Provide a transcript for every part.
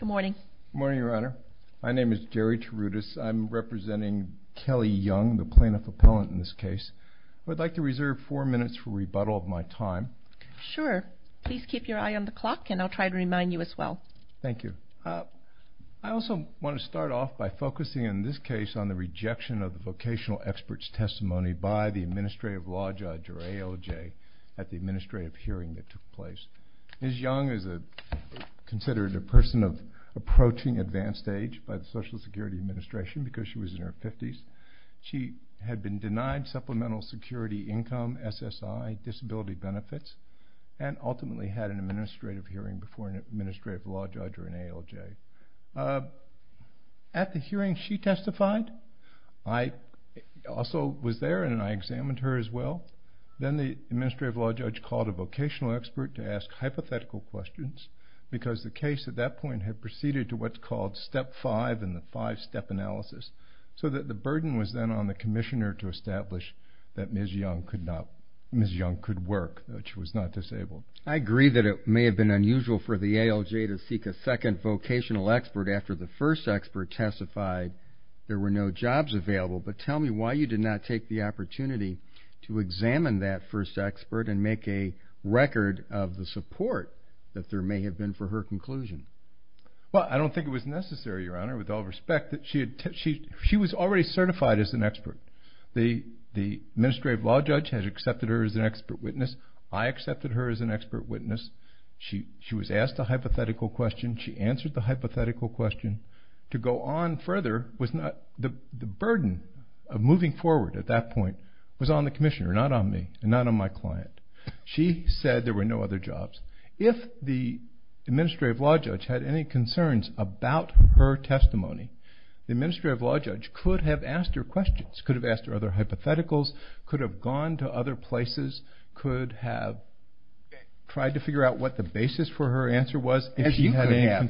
Good morning. Good morning, Your Honor. My name is Jerry Tarutis. I'm representing Kelly Young, the plaintiff-appellant in this case. I would like to reserve four minutes for rebuttal of my time. Sure. Please keep your eye on the clock, and I'll try to remind you as well. Thank you. I also want to start off by focusing in this case on the rejection of the vocational expert's testimony by the administrative law judge, or ALJ, at the administrative hearing that took place. Ms. Young is considered a person of approaching advanced age by the Social Security Administration because she was in her 50s. She had been denied supplemental security income, SSI, disability benefits, and ultimately had an administrative hearing before an administrative law judge or an ALJ. At the hearing, she testified. I also was there, and I examined her as well. Then the administrative law judge called a vocational expert to ask hypothetical questions because the case at that point had proceeded to what's called step five in the five-step analysis, so that the burden was then on the commissioner to establish that Ms. Young could work, that she was not disabled. I agree that it may have been unusual for the ALJ to seek a second vocational expert after the first expert testified. There were no jobs available, but tell me why you did not take the opportunity to examine that first expert and make a record of the support that there may have been for her conclusion. Well, I don't think it was necessary, Your Honor, with all respect. She was already certified as an expert. The administrative law judge had accepted her as an expert witness. I accepted her as an expert witness. She was asked a hypothetical question. She answered the hypothetical question. To go on further, the burden of moving forward at that point was on the commissioner, not on me, and not on my client. She said there were no other jobs. If the administrative law judge had any concerns about her testimony, the administrative law judge could have asked her questions, could have asked her other hypotheticals, could have gone to other places, could have tried to figure out what the basis for her answer was.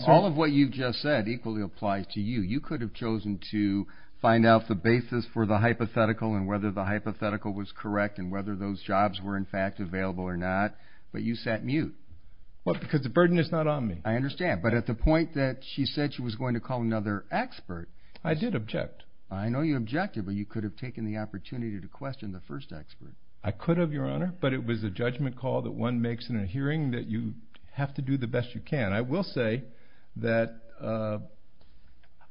All of what you've just said equally applies to you. You could have chosen to find out the basis for the hypothetical and whether the hypothetical was correct and whether those jobs were, in fact, available or not, but you sat mute. Because the burden is not on me. I understand, but at the point that she said she was going to call another expert. I did object. I know you objected, but you could have taken the opportunity to question the first expert. I could have, Your Honor, but it was a judgment call that one makes in a hearing that you have to do the best you can. And I will say that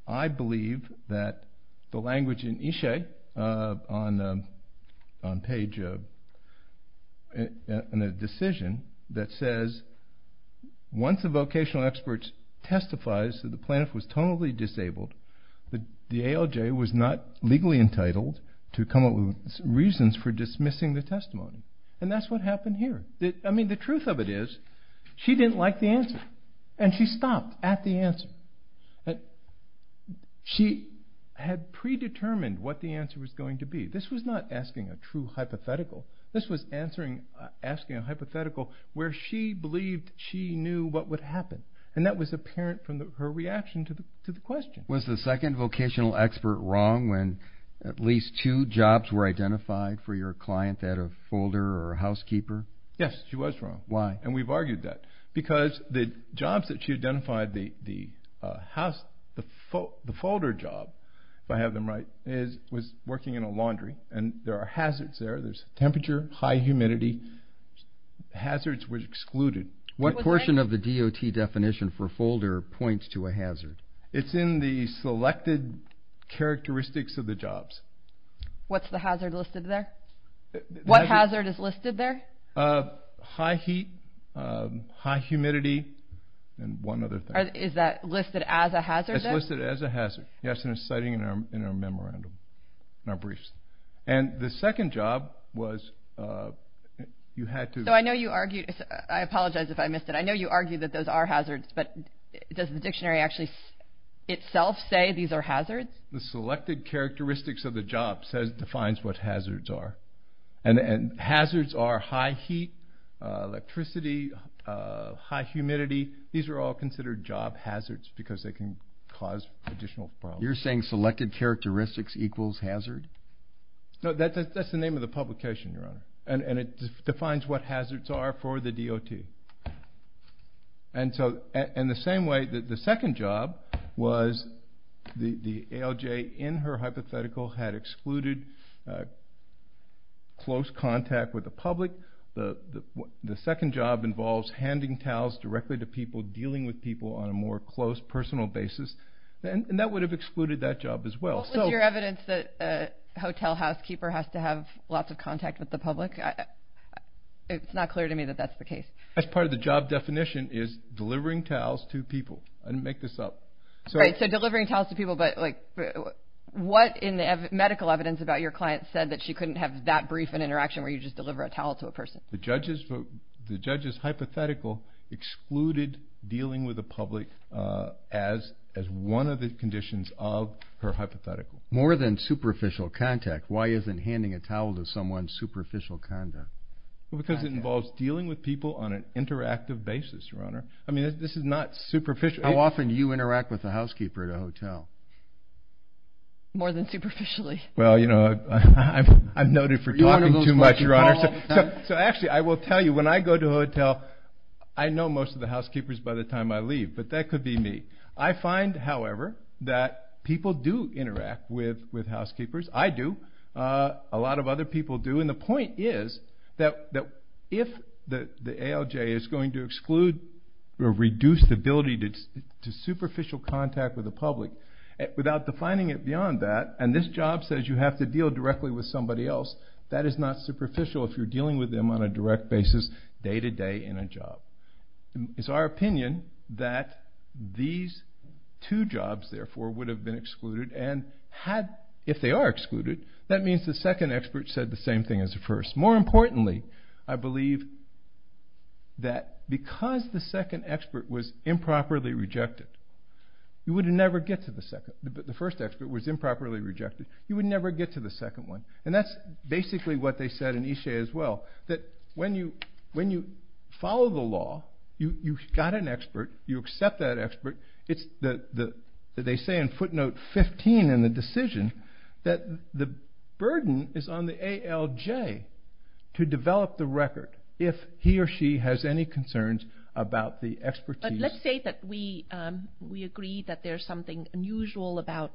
I believe that the language in Ishe on page, in the decision that says, once the vocational expert testifies that the plaintiff was totally disabled, the ALJ was not legally entitled to come up with reasons for dismissing the testimony. And that's what happened here. I mean, the truth of it is she didn't like the answer, and she stopped at the answer. She had predetermined what the answer was going to be. This was not asking a true hypothetical. This was asking a hypothetical where she believed she knew what would happen, and that was apparent from her reaction to the question. Was the second vocational expert wrong when at least two jobs were identified for your client out of folder or housekeeper? Yes, she was wrong. Why? And we've argued that because the jobs that she identified, the folder job, if I have them right, was working in a laundry, and there are hazards there. There's temperature, high humidity. Hazards were excluded. What portion of the DOT definition for folder points to a hazard? It's in the selected characteristics of the jobs. What's the hazard listed there? What hazard is listed there? High heat, high humidity, and one other thing. Is that listed as a hazard there? It's listed as a hazard, yes, and it's citing in our memorandum, in our briefs. And the second job was you had to – So I know you argued – I apologize if I missed it. I know you argued that those are hazards, but does the dictionary actually itself say these are hazards? The selected characteristics of the job defines what hazards are. And hazards are high heat, electricity, high humidity. These are all considered job hazards because they can cause additional problems. You're saying selected characteristics equals hazard? No, that's the name of the publication, Your Honor, and it defines what hazards are for the DOT. And so in the same way, the second job was the ALJ in her hypothetical had excluded close contact with the public. The second job involves handing towels directly to people, dealing with people on a more close, personal basis, and that would have excluded that job as well. What was your evidence that a hotel housekeeper has to have lots of contact with the public? It's not clear to me that that's the case. That's part of the job definition is delivering towels to people. I didn't make this up. Right, so delivering towels to people. But what in the medical evidence about your client said that she couldn't have that brief an interaction where you just deliver a towel to a person? The judge's hypothetical excluded dealing with the public as one of the conditions of her hypothetical. More than superficial contact, why isn't handing a towel to someone superficial conduct? Because it involves dealing with people on an interactive basis, Your Honor. I mean, this is not superficial. How often do you interact with a housekeeper at a hotel? More than superficially. Well, you know, I'm noted for talking too much, Your Honor. So actually, I will tell you, when I go to a hotel, I know most of the housekeepers by the time I leave, but that could be me. I find, however, that people do interact with housekeepers. I do. A lot of other people do. And the point is that if the ALJ is going to exclude or reduce the ability to superficial contact with the public, without defining it beyond that, and this job says you have to deal directly with somebody else, that is not superficial if you're dealing with them on a direct basis day to day in a job. It's our opinion that these two jobs, therefore, would have been excluded. And if they are excluded, that means the second expert said the same thing as the first. More importantly, I believe that because the second expert was improperly rejected, you would never get to the second. The first expert was improperly rejected. You would never get to the second one. And that's basically what they said in Ishe as well. That when you follow the law, you've got an expert, you accept that expert. They say in footnote 15 in the decision that the burden is on the ALJ to develop the record if he or she has any concerns about the expertise. Let's say that we agree that there's something unusual about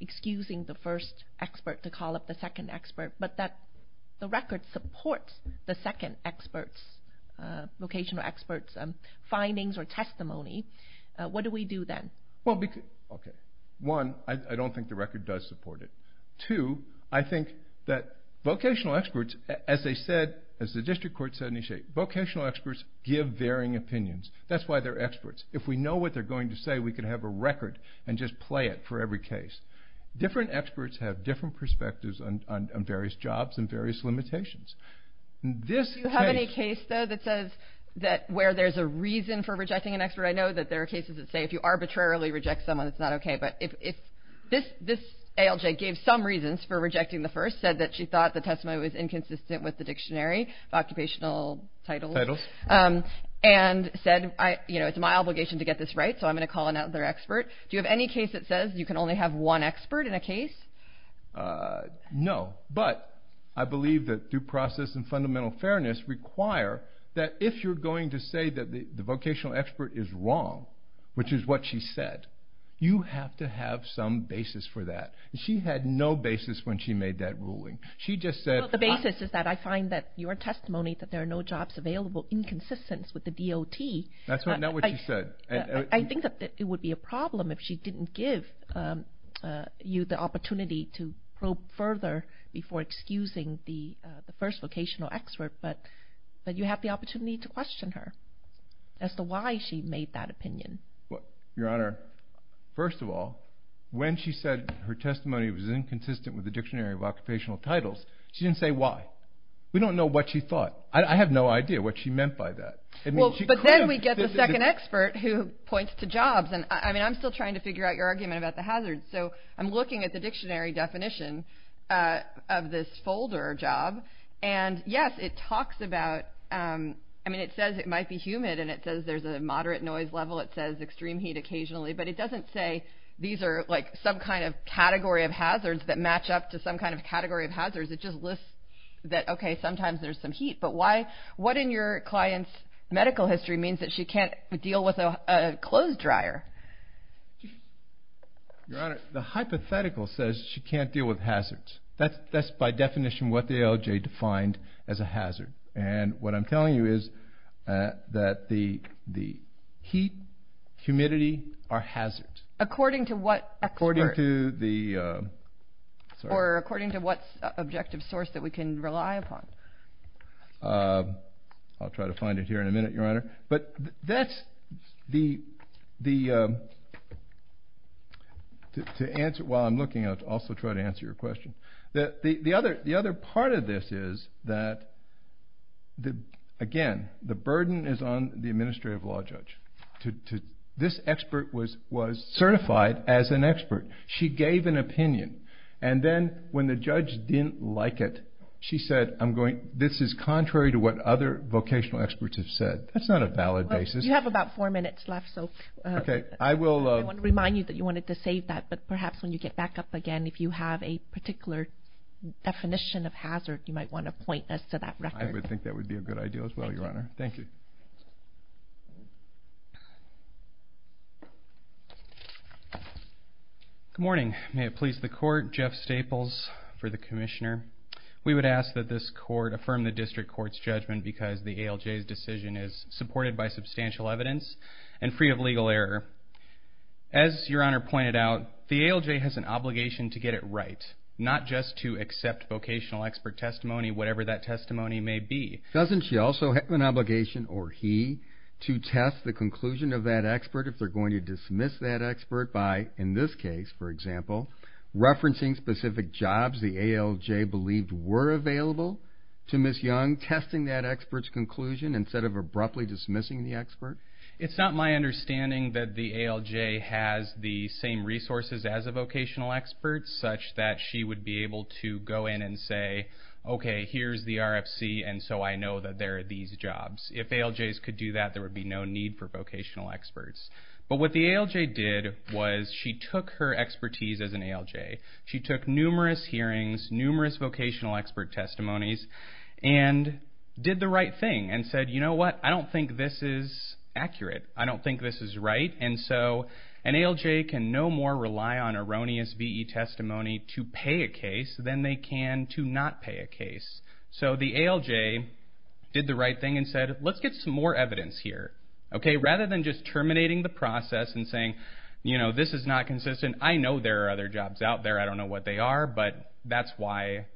excusing the first expert to call up the second expert, but that the record supports the second expert's vocational expert's findings or testimony. What do we do then? One, I don't think the record does support it. Two, I think that vocational experts, as they said, as the district court said in Ishe, vocational experts give varying opinions. That's why they're experts. If we know what they're going to say, we can have a record and just play it for every case. Different experts have different perspectives on various jobs and various limitations. Do you have any case, though, that says where there's a reason for rejecting an expert? I know that there are cases that say if you arbitrarily reject someone, it's not okay. But this ALJ gave some reasons for rejecting the first, said that she thought the testimony was inconsistent with the dictionary, occupational titles, and said it's my obligation to get this right, so I'm going to call another expert. Do you have any case that says you can only have one expert in a case? No. But I believe that due process and fundamental fairness require that if you're going to say that the vocational expert is wrong, which is what she said, you have to have some basis for that. She had no basis when she made that ruling. She just said the basis is that I find that your testimony that there are no jobs available inconsistent with the DOT. That's not what she said. I think that it would be a problem if she didn't give you the opportunity to probe further before excusing the first vocational expert, but you have the opportunity to question her as to why she made that opinion. Your Honor, first of all, when she said her testimony was inconsistent with the dictionary of occupational titles, she didn't say why. We don't know what she thought. I have no idea what she meant by that. But then we get the second expert who points to jobs. I mean, I'm still trying to figure out your argument about the hazards, so I'm looking at the dictionary definition of this folder job, and, yes, it talks about – I mean, it says it might be humid, and it says there's a moderate noise level. It says extreme heat occasionally, but it doesn't say these are like some kind of category of hazards that match up to some kind of category of hazards. It just lists that, okay, sometimes there's some heat. But what in your client's medical history means that she can't deal with a clothes dryer? Your Honor, the hypothetical says she can't deal with hazards. That's by definition what the ALJ defined as a hazard. And what I'm telling you is that the heat, humidity are hazards. According to what expert? I'll try to find it here in a minute, Your Honor. But that's the – while I'm looking, I'll also try to answer your question. The other part of this is that, again, the burden is on the administrative law judge. This expert was certified as an expert. She gave an opinion. And then when the judge didn't like it, she said, I'm going – this is contrary to what other vocational experts have said. That's not a valid basis. You have about four minutes left, so I want to remind you that you wanted to save that. But perhaps when you get back up again, if you have a particular definition of hazard, you might want to point us to that record. I would think that would be a good idea as well, Your Honor. Thank you. Good morning. May it please the Court, Jeff Staples for the Commissioner. We would ask that this Court affirm the district court's judgment because the ALJ's decision is supported by substantial evidence and free of legal error. As Your Honor pointed out, the ALJ has an obligation to get it right, not just to accept vocational expert testimony, whatever that testimony may be. Doesn't she also have an obligation, or he, to test the conclusion of that expert if they're going to dismiss that expert by, in this case, for example, referencing specific jobs the ALJ believed were available to Ms. Young, testing that expert's conclusion instead of abruptly dismissing the expert? It's not my understanding that the ALJ has the same resources as a vocational expert, such that she would be able to go in and say, okay, here's the RFC, and so I know that there are these jobs. If ALJs could do that, there would be no need for vocational experts. But what the ALJ did was she took her expertise as an ALJ. She took numerous hearings, numerous vocational expert testimonies, and did the right thing and said, you know what, I don't think this is accurate. I don't think this is right. And so an ALJ can no more rely on erroneous VE testimony to pay a case than they can to not pay a case. So the ALJ did the right thing and said, let's get some more evidence here. Rather than just terminating the process and saying, you know, this is not consistent. I know there are other jobs out there. I don't know what they are, but that's why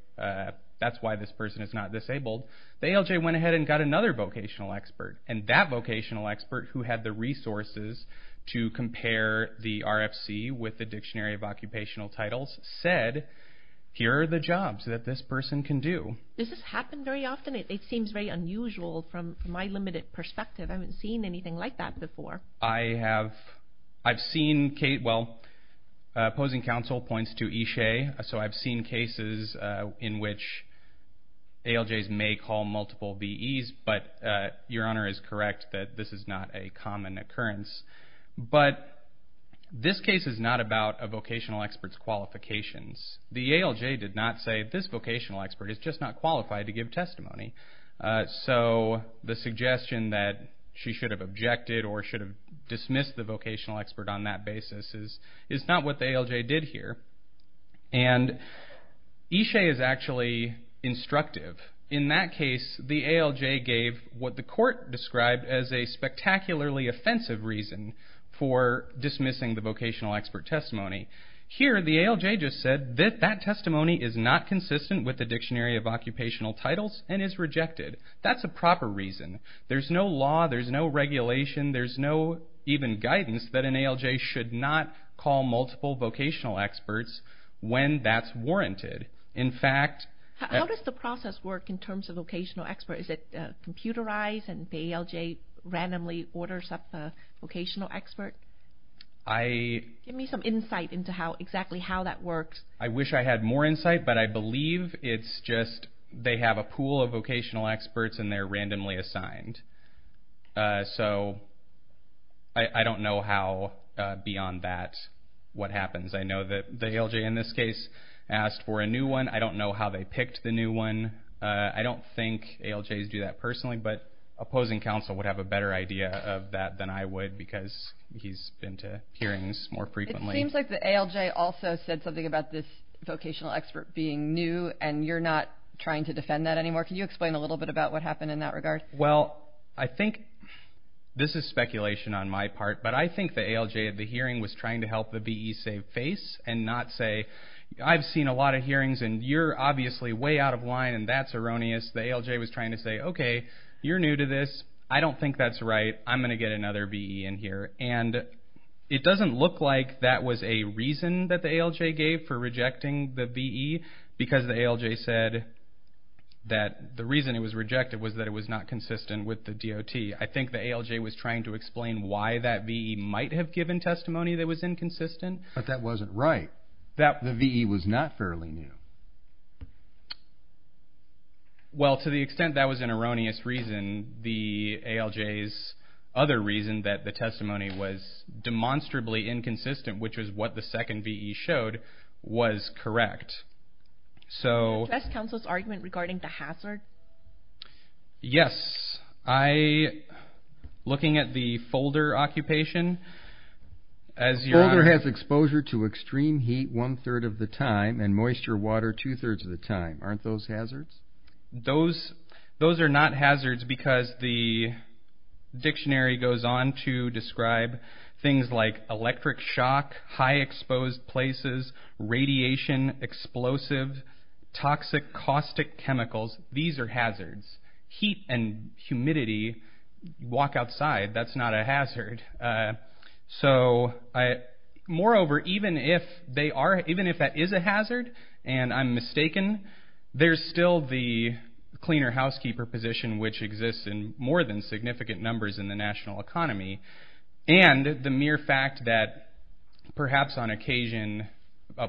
this person is not disabled. The ALJ went ahead and got another vocational expert, and that vocational expert, who had the resources to compare the RFC with the Dictionary of Occupational Titles, said, here are the jobs that this person can do. Does this happen very often? It seems very unusual from my limited perspective. I haven't seen anything like that before. I have. I've seen, well, opposing counsel points to Ishe, so I've seen cases in which ALJs may call multiple VEs, but Your Honor is correct that this is not a common occurrence. But this case is not about a vocational expert's qualifications. The ALJ did not say, this vocational expert is just not qualified to give testimony. So the suggestion that she should have objected or should have dismissed the vocational expert on that basis is not what the ALJ did here. And Ishe is actually instructive. In that case, the ALJ gave what the court described as a spectacularly offensive reason for dismissing the vocational expert testimony. Here, the ALJ just said that that testimony is not consistent with the Dictionary of Occupational Titles and is rejected. That's a proper reason. There's no law, there's no regulation, there's no even guidance that an ALJ should not call multiple vocational experts when that's warranted. In fact... How does the process work in terms of vocational experts? Is it computerized and the ALJ randomly orders up a vocational expert? Give me some insight into exactly how that works. I wish I had more insight, but I believe it's just they have a pool of vocational experts and they're randomly assigned. So I don't know how beyond that what happens. I know that the ALJ in this case asked for a new one. I don't know how they picked the new one. I don't think ALJs do that personally, but opposing counsel would have a better idea of that than I would because he's been to hearings more frequently. It seems like the ALJ also said something about this vocational expert being new and you're not trying to defend that anymore. Can you explain a little bit about what happened in that regard? Well, I think this is speculation on my part, but I think the ALJ at the hearing was trying to help the BE save face and not say, I've seen a lot of hearings and you're obviously way out of line and that's erroneous. The ALJ was trying to say, okay, you're new to this. I don't think that's right. I'm going to get another BE in here. And it doesn't look like that was a reason that the ALJ gave for rejecting the BE because the ALJ said that the reason it was rejected was that it was not consistent with the DOT. I think the ALJ was trying to explain why that BE might have given testimony that was inconsistent. But that wasn't right. The BE was not fairly new. Well, to the extent that was an erroneous reason, the ALJ's other reason that the testimony was demonstrably inconsistent, which was what the second BE showed, was correct. Can you address counsel's argument regarding the hazard? Yes. Looking at the folder occupation, as you're on it. The folder has exposure to extreme heat one-third of the time and moisture water two-thirds of the time. Aren't those hazards? Those are not hazards because the dictionary goes on to describe things like electric shock, high exposed places, radiation, explosive, toxic, caustic chemicals. These are hazards. Heat and humidity. Walk outside. That's not a hazard. Moreover, even if that is a hazard and I'm mistaken, there's still the cleaner housekeeper position, which exists in more than significant numbers in the national economy. And the mere fact that perhaps on occasion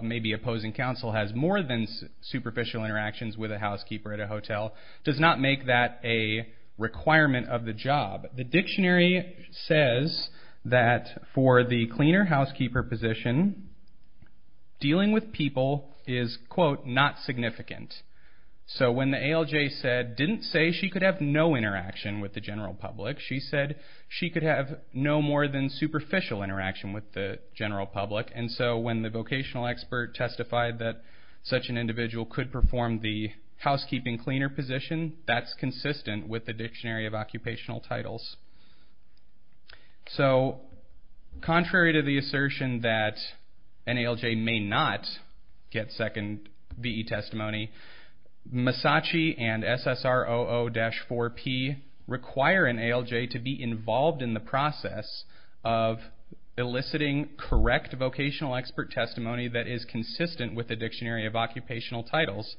maybe opposing counsel has more than superficial interactions with a housekeeper at a hotel does not make that a requirement of the job. The dictionary says that for the cleaner housekeeper position, dealing with people is, quote, not significant. So when the ALJ said, didn't say she could have no interaction with the general public, she said she could have no more than superficial interaction with the general public. And so when the vocational expert testified that such an individual could perform the housekeeping cleaner position, that's consistent with the dictionary of occupational titles. So contrary to the assertion that an ALJ may not get second V.E. testimony, Massachi and SSROO-4P require an ALJ to be involved in the process of eliciting correct vocational expert testimony that is consistent with the dictionary of occupational titles.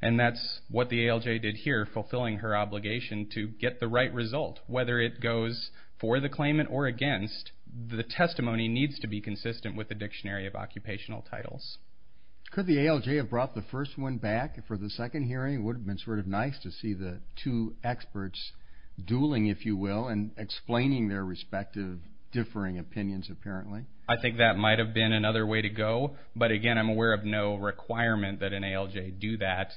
And that's what the ALJ did here, fulfilling her obligation to get the right result, whether it goes for the claimant or against, the testimony needs to be consistent with the dictionary of occupational titles. Could the ALJ have brought the first one back for the second hearing? It would have been sort of nice to see the two experts dueling, if you will, and explaining their respective differing opinions apparently. I think that might have been another way to go, but again, I'm aware of no requirement that an ALJ do that.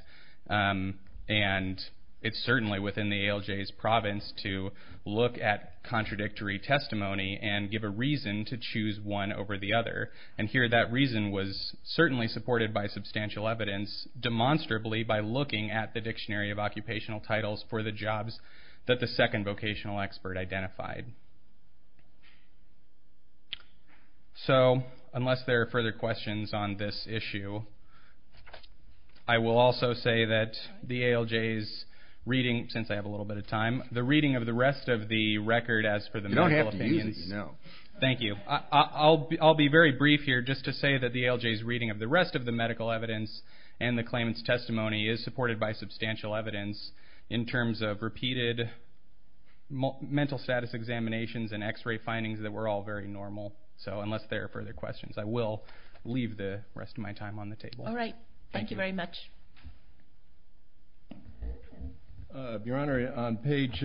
And it's certainly within the ALJ's province to look at contradictory testimony and give a reason to choose one over the other. And here that reason was certainly supported by substantial evidence, demonstrably by looking at the dictionary of occupational titles for the jobs that the second vocational expert identified. So unless there are further questions on this issue, I will also say that the ALJ's reading, since I have a little bit of time, the reading of the rest of the record as for the medical opinions. You don't have to use it, no. Thank you. I'll be very brief here just to say that the ALJ's reading of the rest of the medical evidence and the claimant's testimony is supported by substantial evidence in terms of repeated mental status examinations and x-ray findings that were all very normal. So unless there are further questions, I will leave the rest of my time on the table. All right. Thank you very much. Your Honor, on page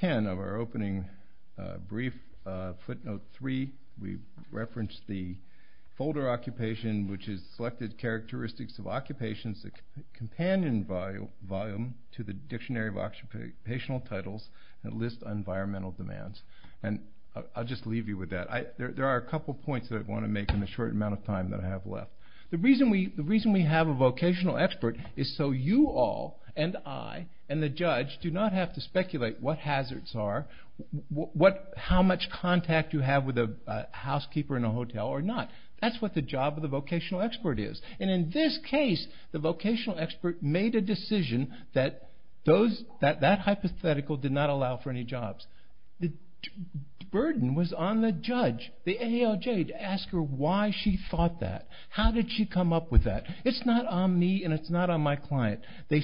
10 of our opening brief, footnote 3, we referenced the folder occupation which is selected characteristics of occupations that companion volume to the dictionary of occupational titles that list environmental demands. And I'll just leave you with that. There are a couple points that I want to make in the short amount of time that I have left. The reason we have a vocational expert is so you all and I and the judge do not have to speculate what hazards are, how much contact you have with a housekeeper in a hotel or not. That's what the job of the vocational expert is. And in this case, the vocational expert made a decision that that hypothetical did not allow for any jobs. The burden was on the judge, the AOJ, to ask her why she thought that. How did she come up with that? It's not on me and it's not on my client. The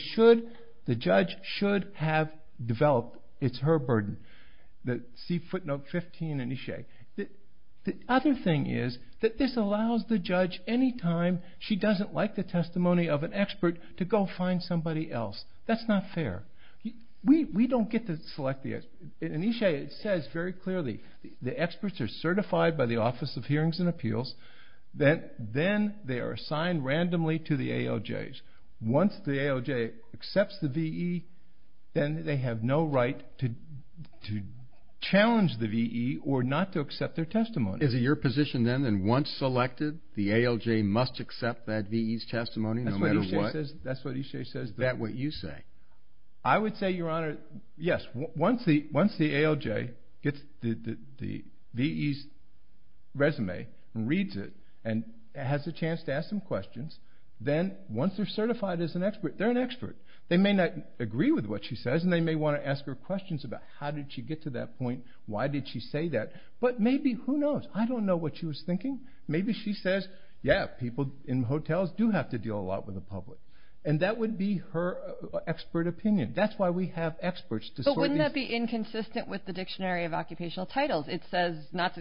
judge should have developed. It's her burden. See footnote 15 in each day. The other thing is that this allows the judge, any time she doesn't like the testimony of an expert, to go find somebody else. That's not fair. We don't get to select the experts. And E. Shea says very clearly, the experts are certified by the Office of Hearings and Appeals. Then they are assigned randomly to the AOJs. Once the AOJ accepts the V.E., then they have no right to challenge the V.E. or not to accept their testimony. Is it your position then that once selected, the AOJ must accept that V.E.'s testimony no matter what? That's what E. Shea says. Is that what you say? I would say, Your Honor, yes. Once the AOJ gets the V.E.'s resume and reads it and has a chance to ask some questions, then once they're certified as an expert, they're an expert. They may not agree with what she says and they may want to ask her questions about how did she get to that point, why did she say that, but maybe who knows? I don't know what she was thinking. Maybe she says, yeah, people in hotels do have to deal a lot with the public. That would be her expert opinion. That's why we have experts. Wouldn't that be inconsistent with the Dictionary of Occupational Titles? It says not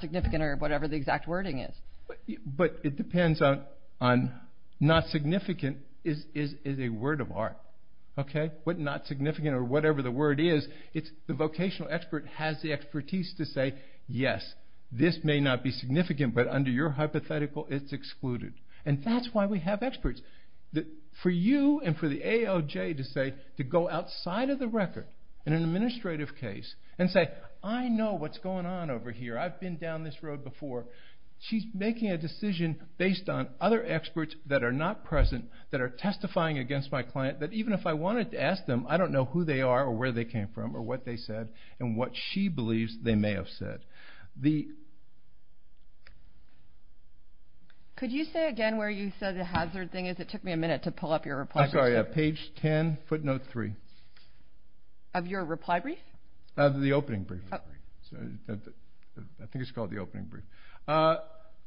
significant or whatever the exact wording is. It depends on not significant is a word of art. Not significant or whatever the word is, the vocational expert has the expertise to say, yes, this may not be significant, but under your hypothetical, it's excluded. That's why we have experts. For you and for the AOJ to say, to go outside of the record in an administrative case and say, I know what's going on over here. I've been down this road before. She's making a decision based on other experts that are not present that are testifying against my client that even if I wanted to ask them, I don't know who they are or where they came from or what they said and what she believes they may have said. Could you say again where you said the hazard thing is? It took me a minute to pull up your reply brief. I'm sorry. Page 10, footnote 3. Of your reply brief? Of the opening brief. I think it's called the opening brief.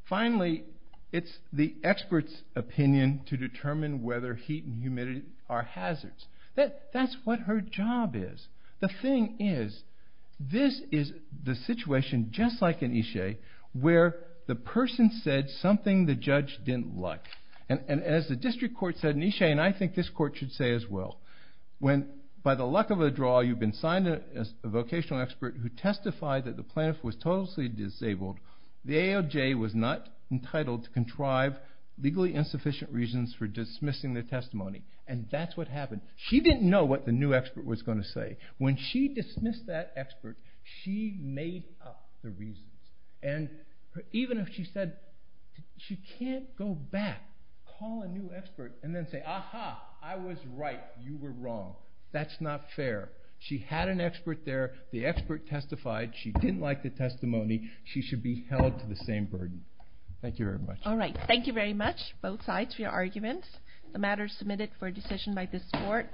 Finally, it's the expert's opinion to determine whether heat and humidity are hazards. That's what her job is. The thing is, this is the situation just like in Ishe where the person said something the judge didn't like. As the district court said in Ishe, and I think this court should say as well, when by the luck of a draw you've been signed as a vocational expert who testified that the plaintiff was totally disabled, the AOJ was not entitled to contrive legally insufficient reasons for dismissing the testimony. That's what happened. She didn't know what the new expert was going to say. When she dismissed that expert, she made up the reasons. Even if she said she can't go back, call a new expert, and then say, Aha, I was right. You were wrong. That's not fair. She had an expert there. The expert testified. She didn't like the testimony. She should be held to the same burden. Thank you very much. All right. Thank you very much, both sides, for your arguments. The matter is submitted for decision by this court.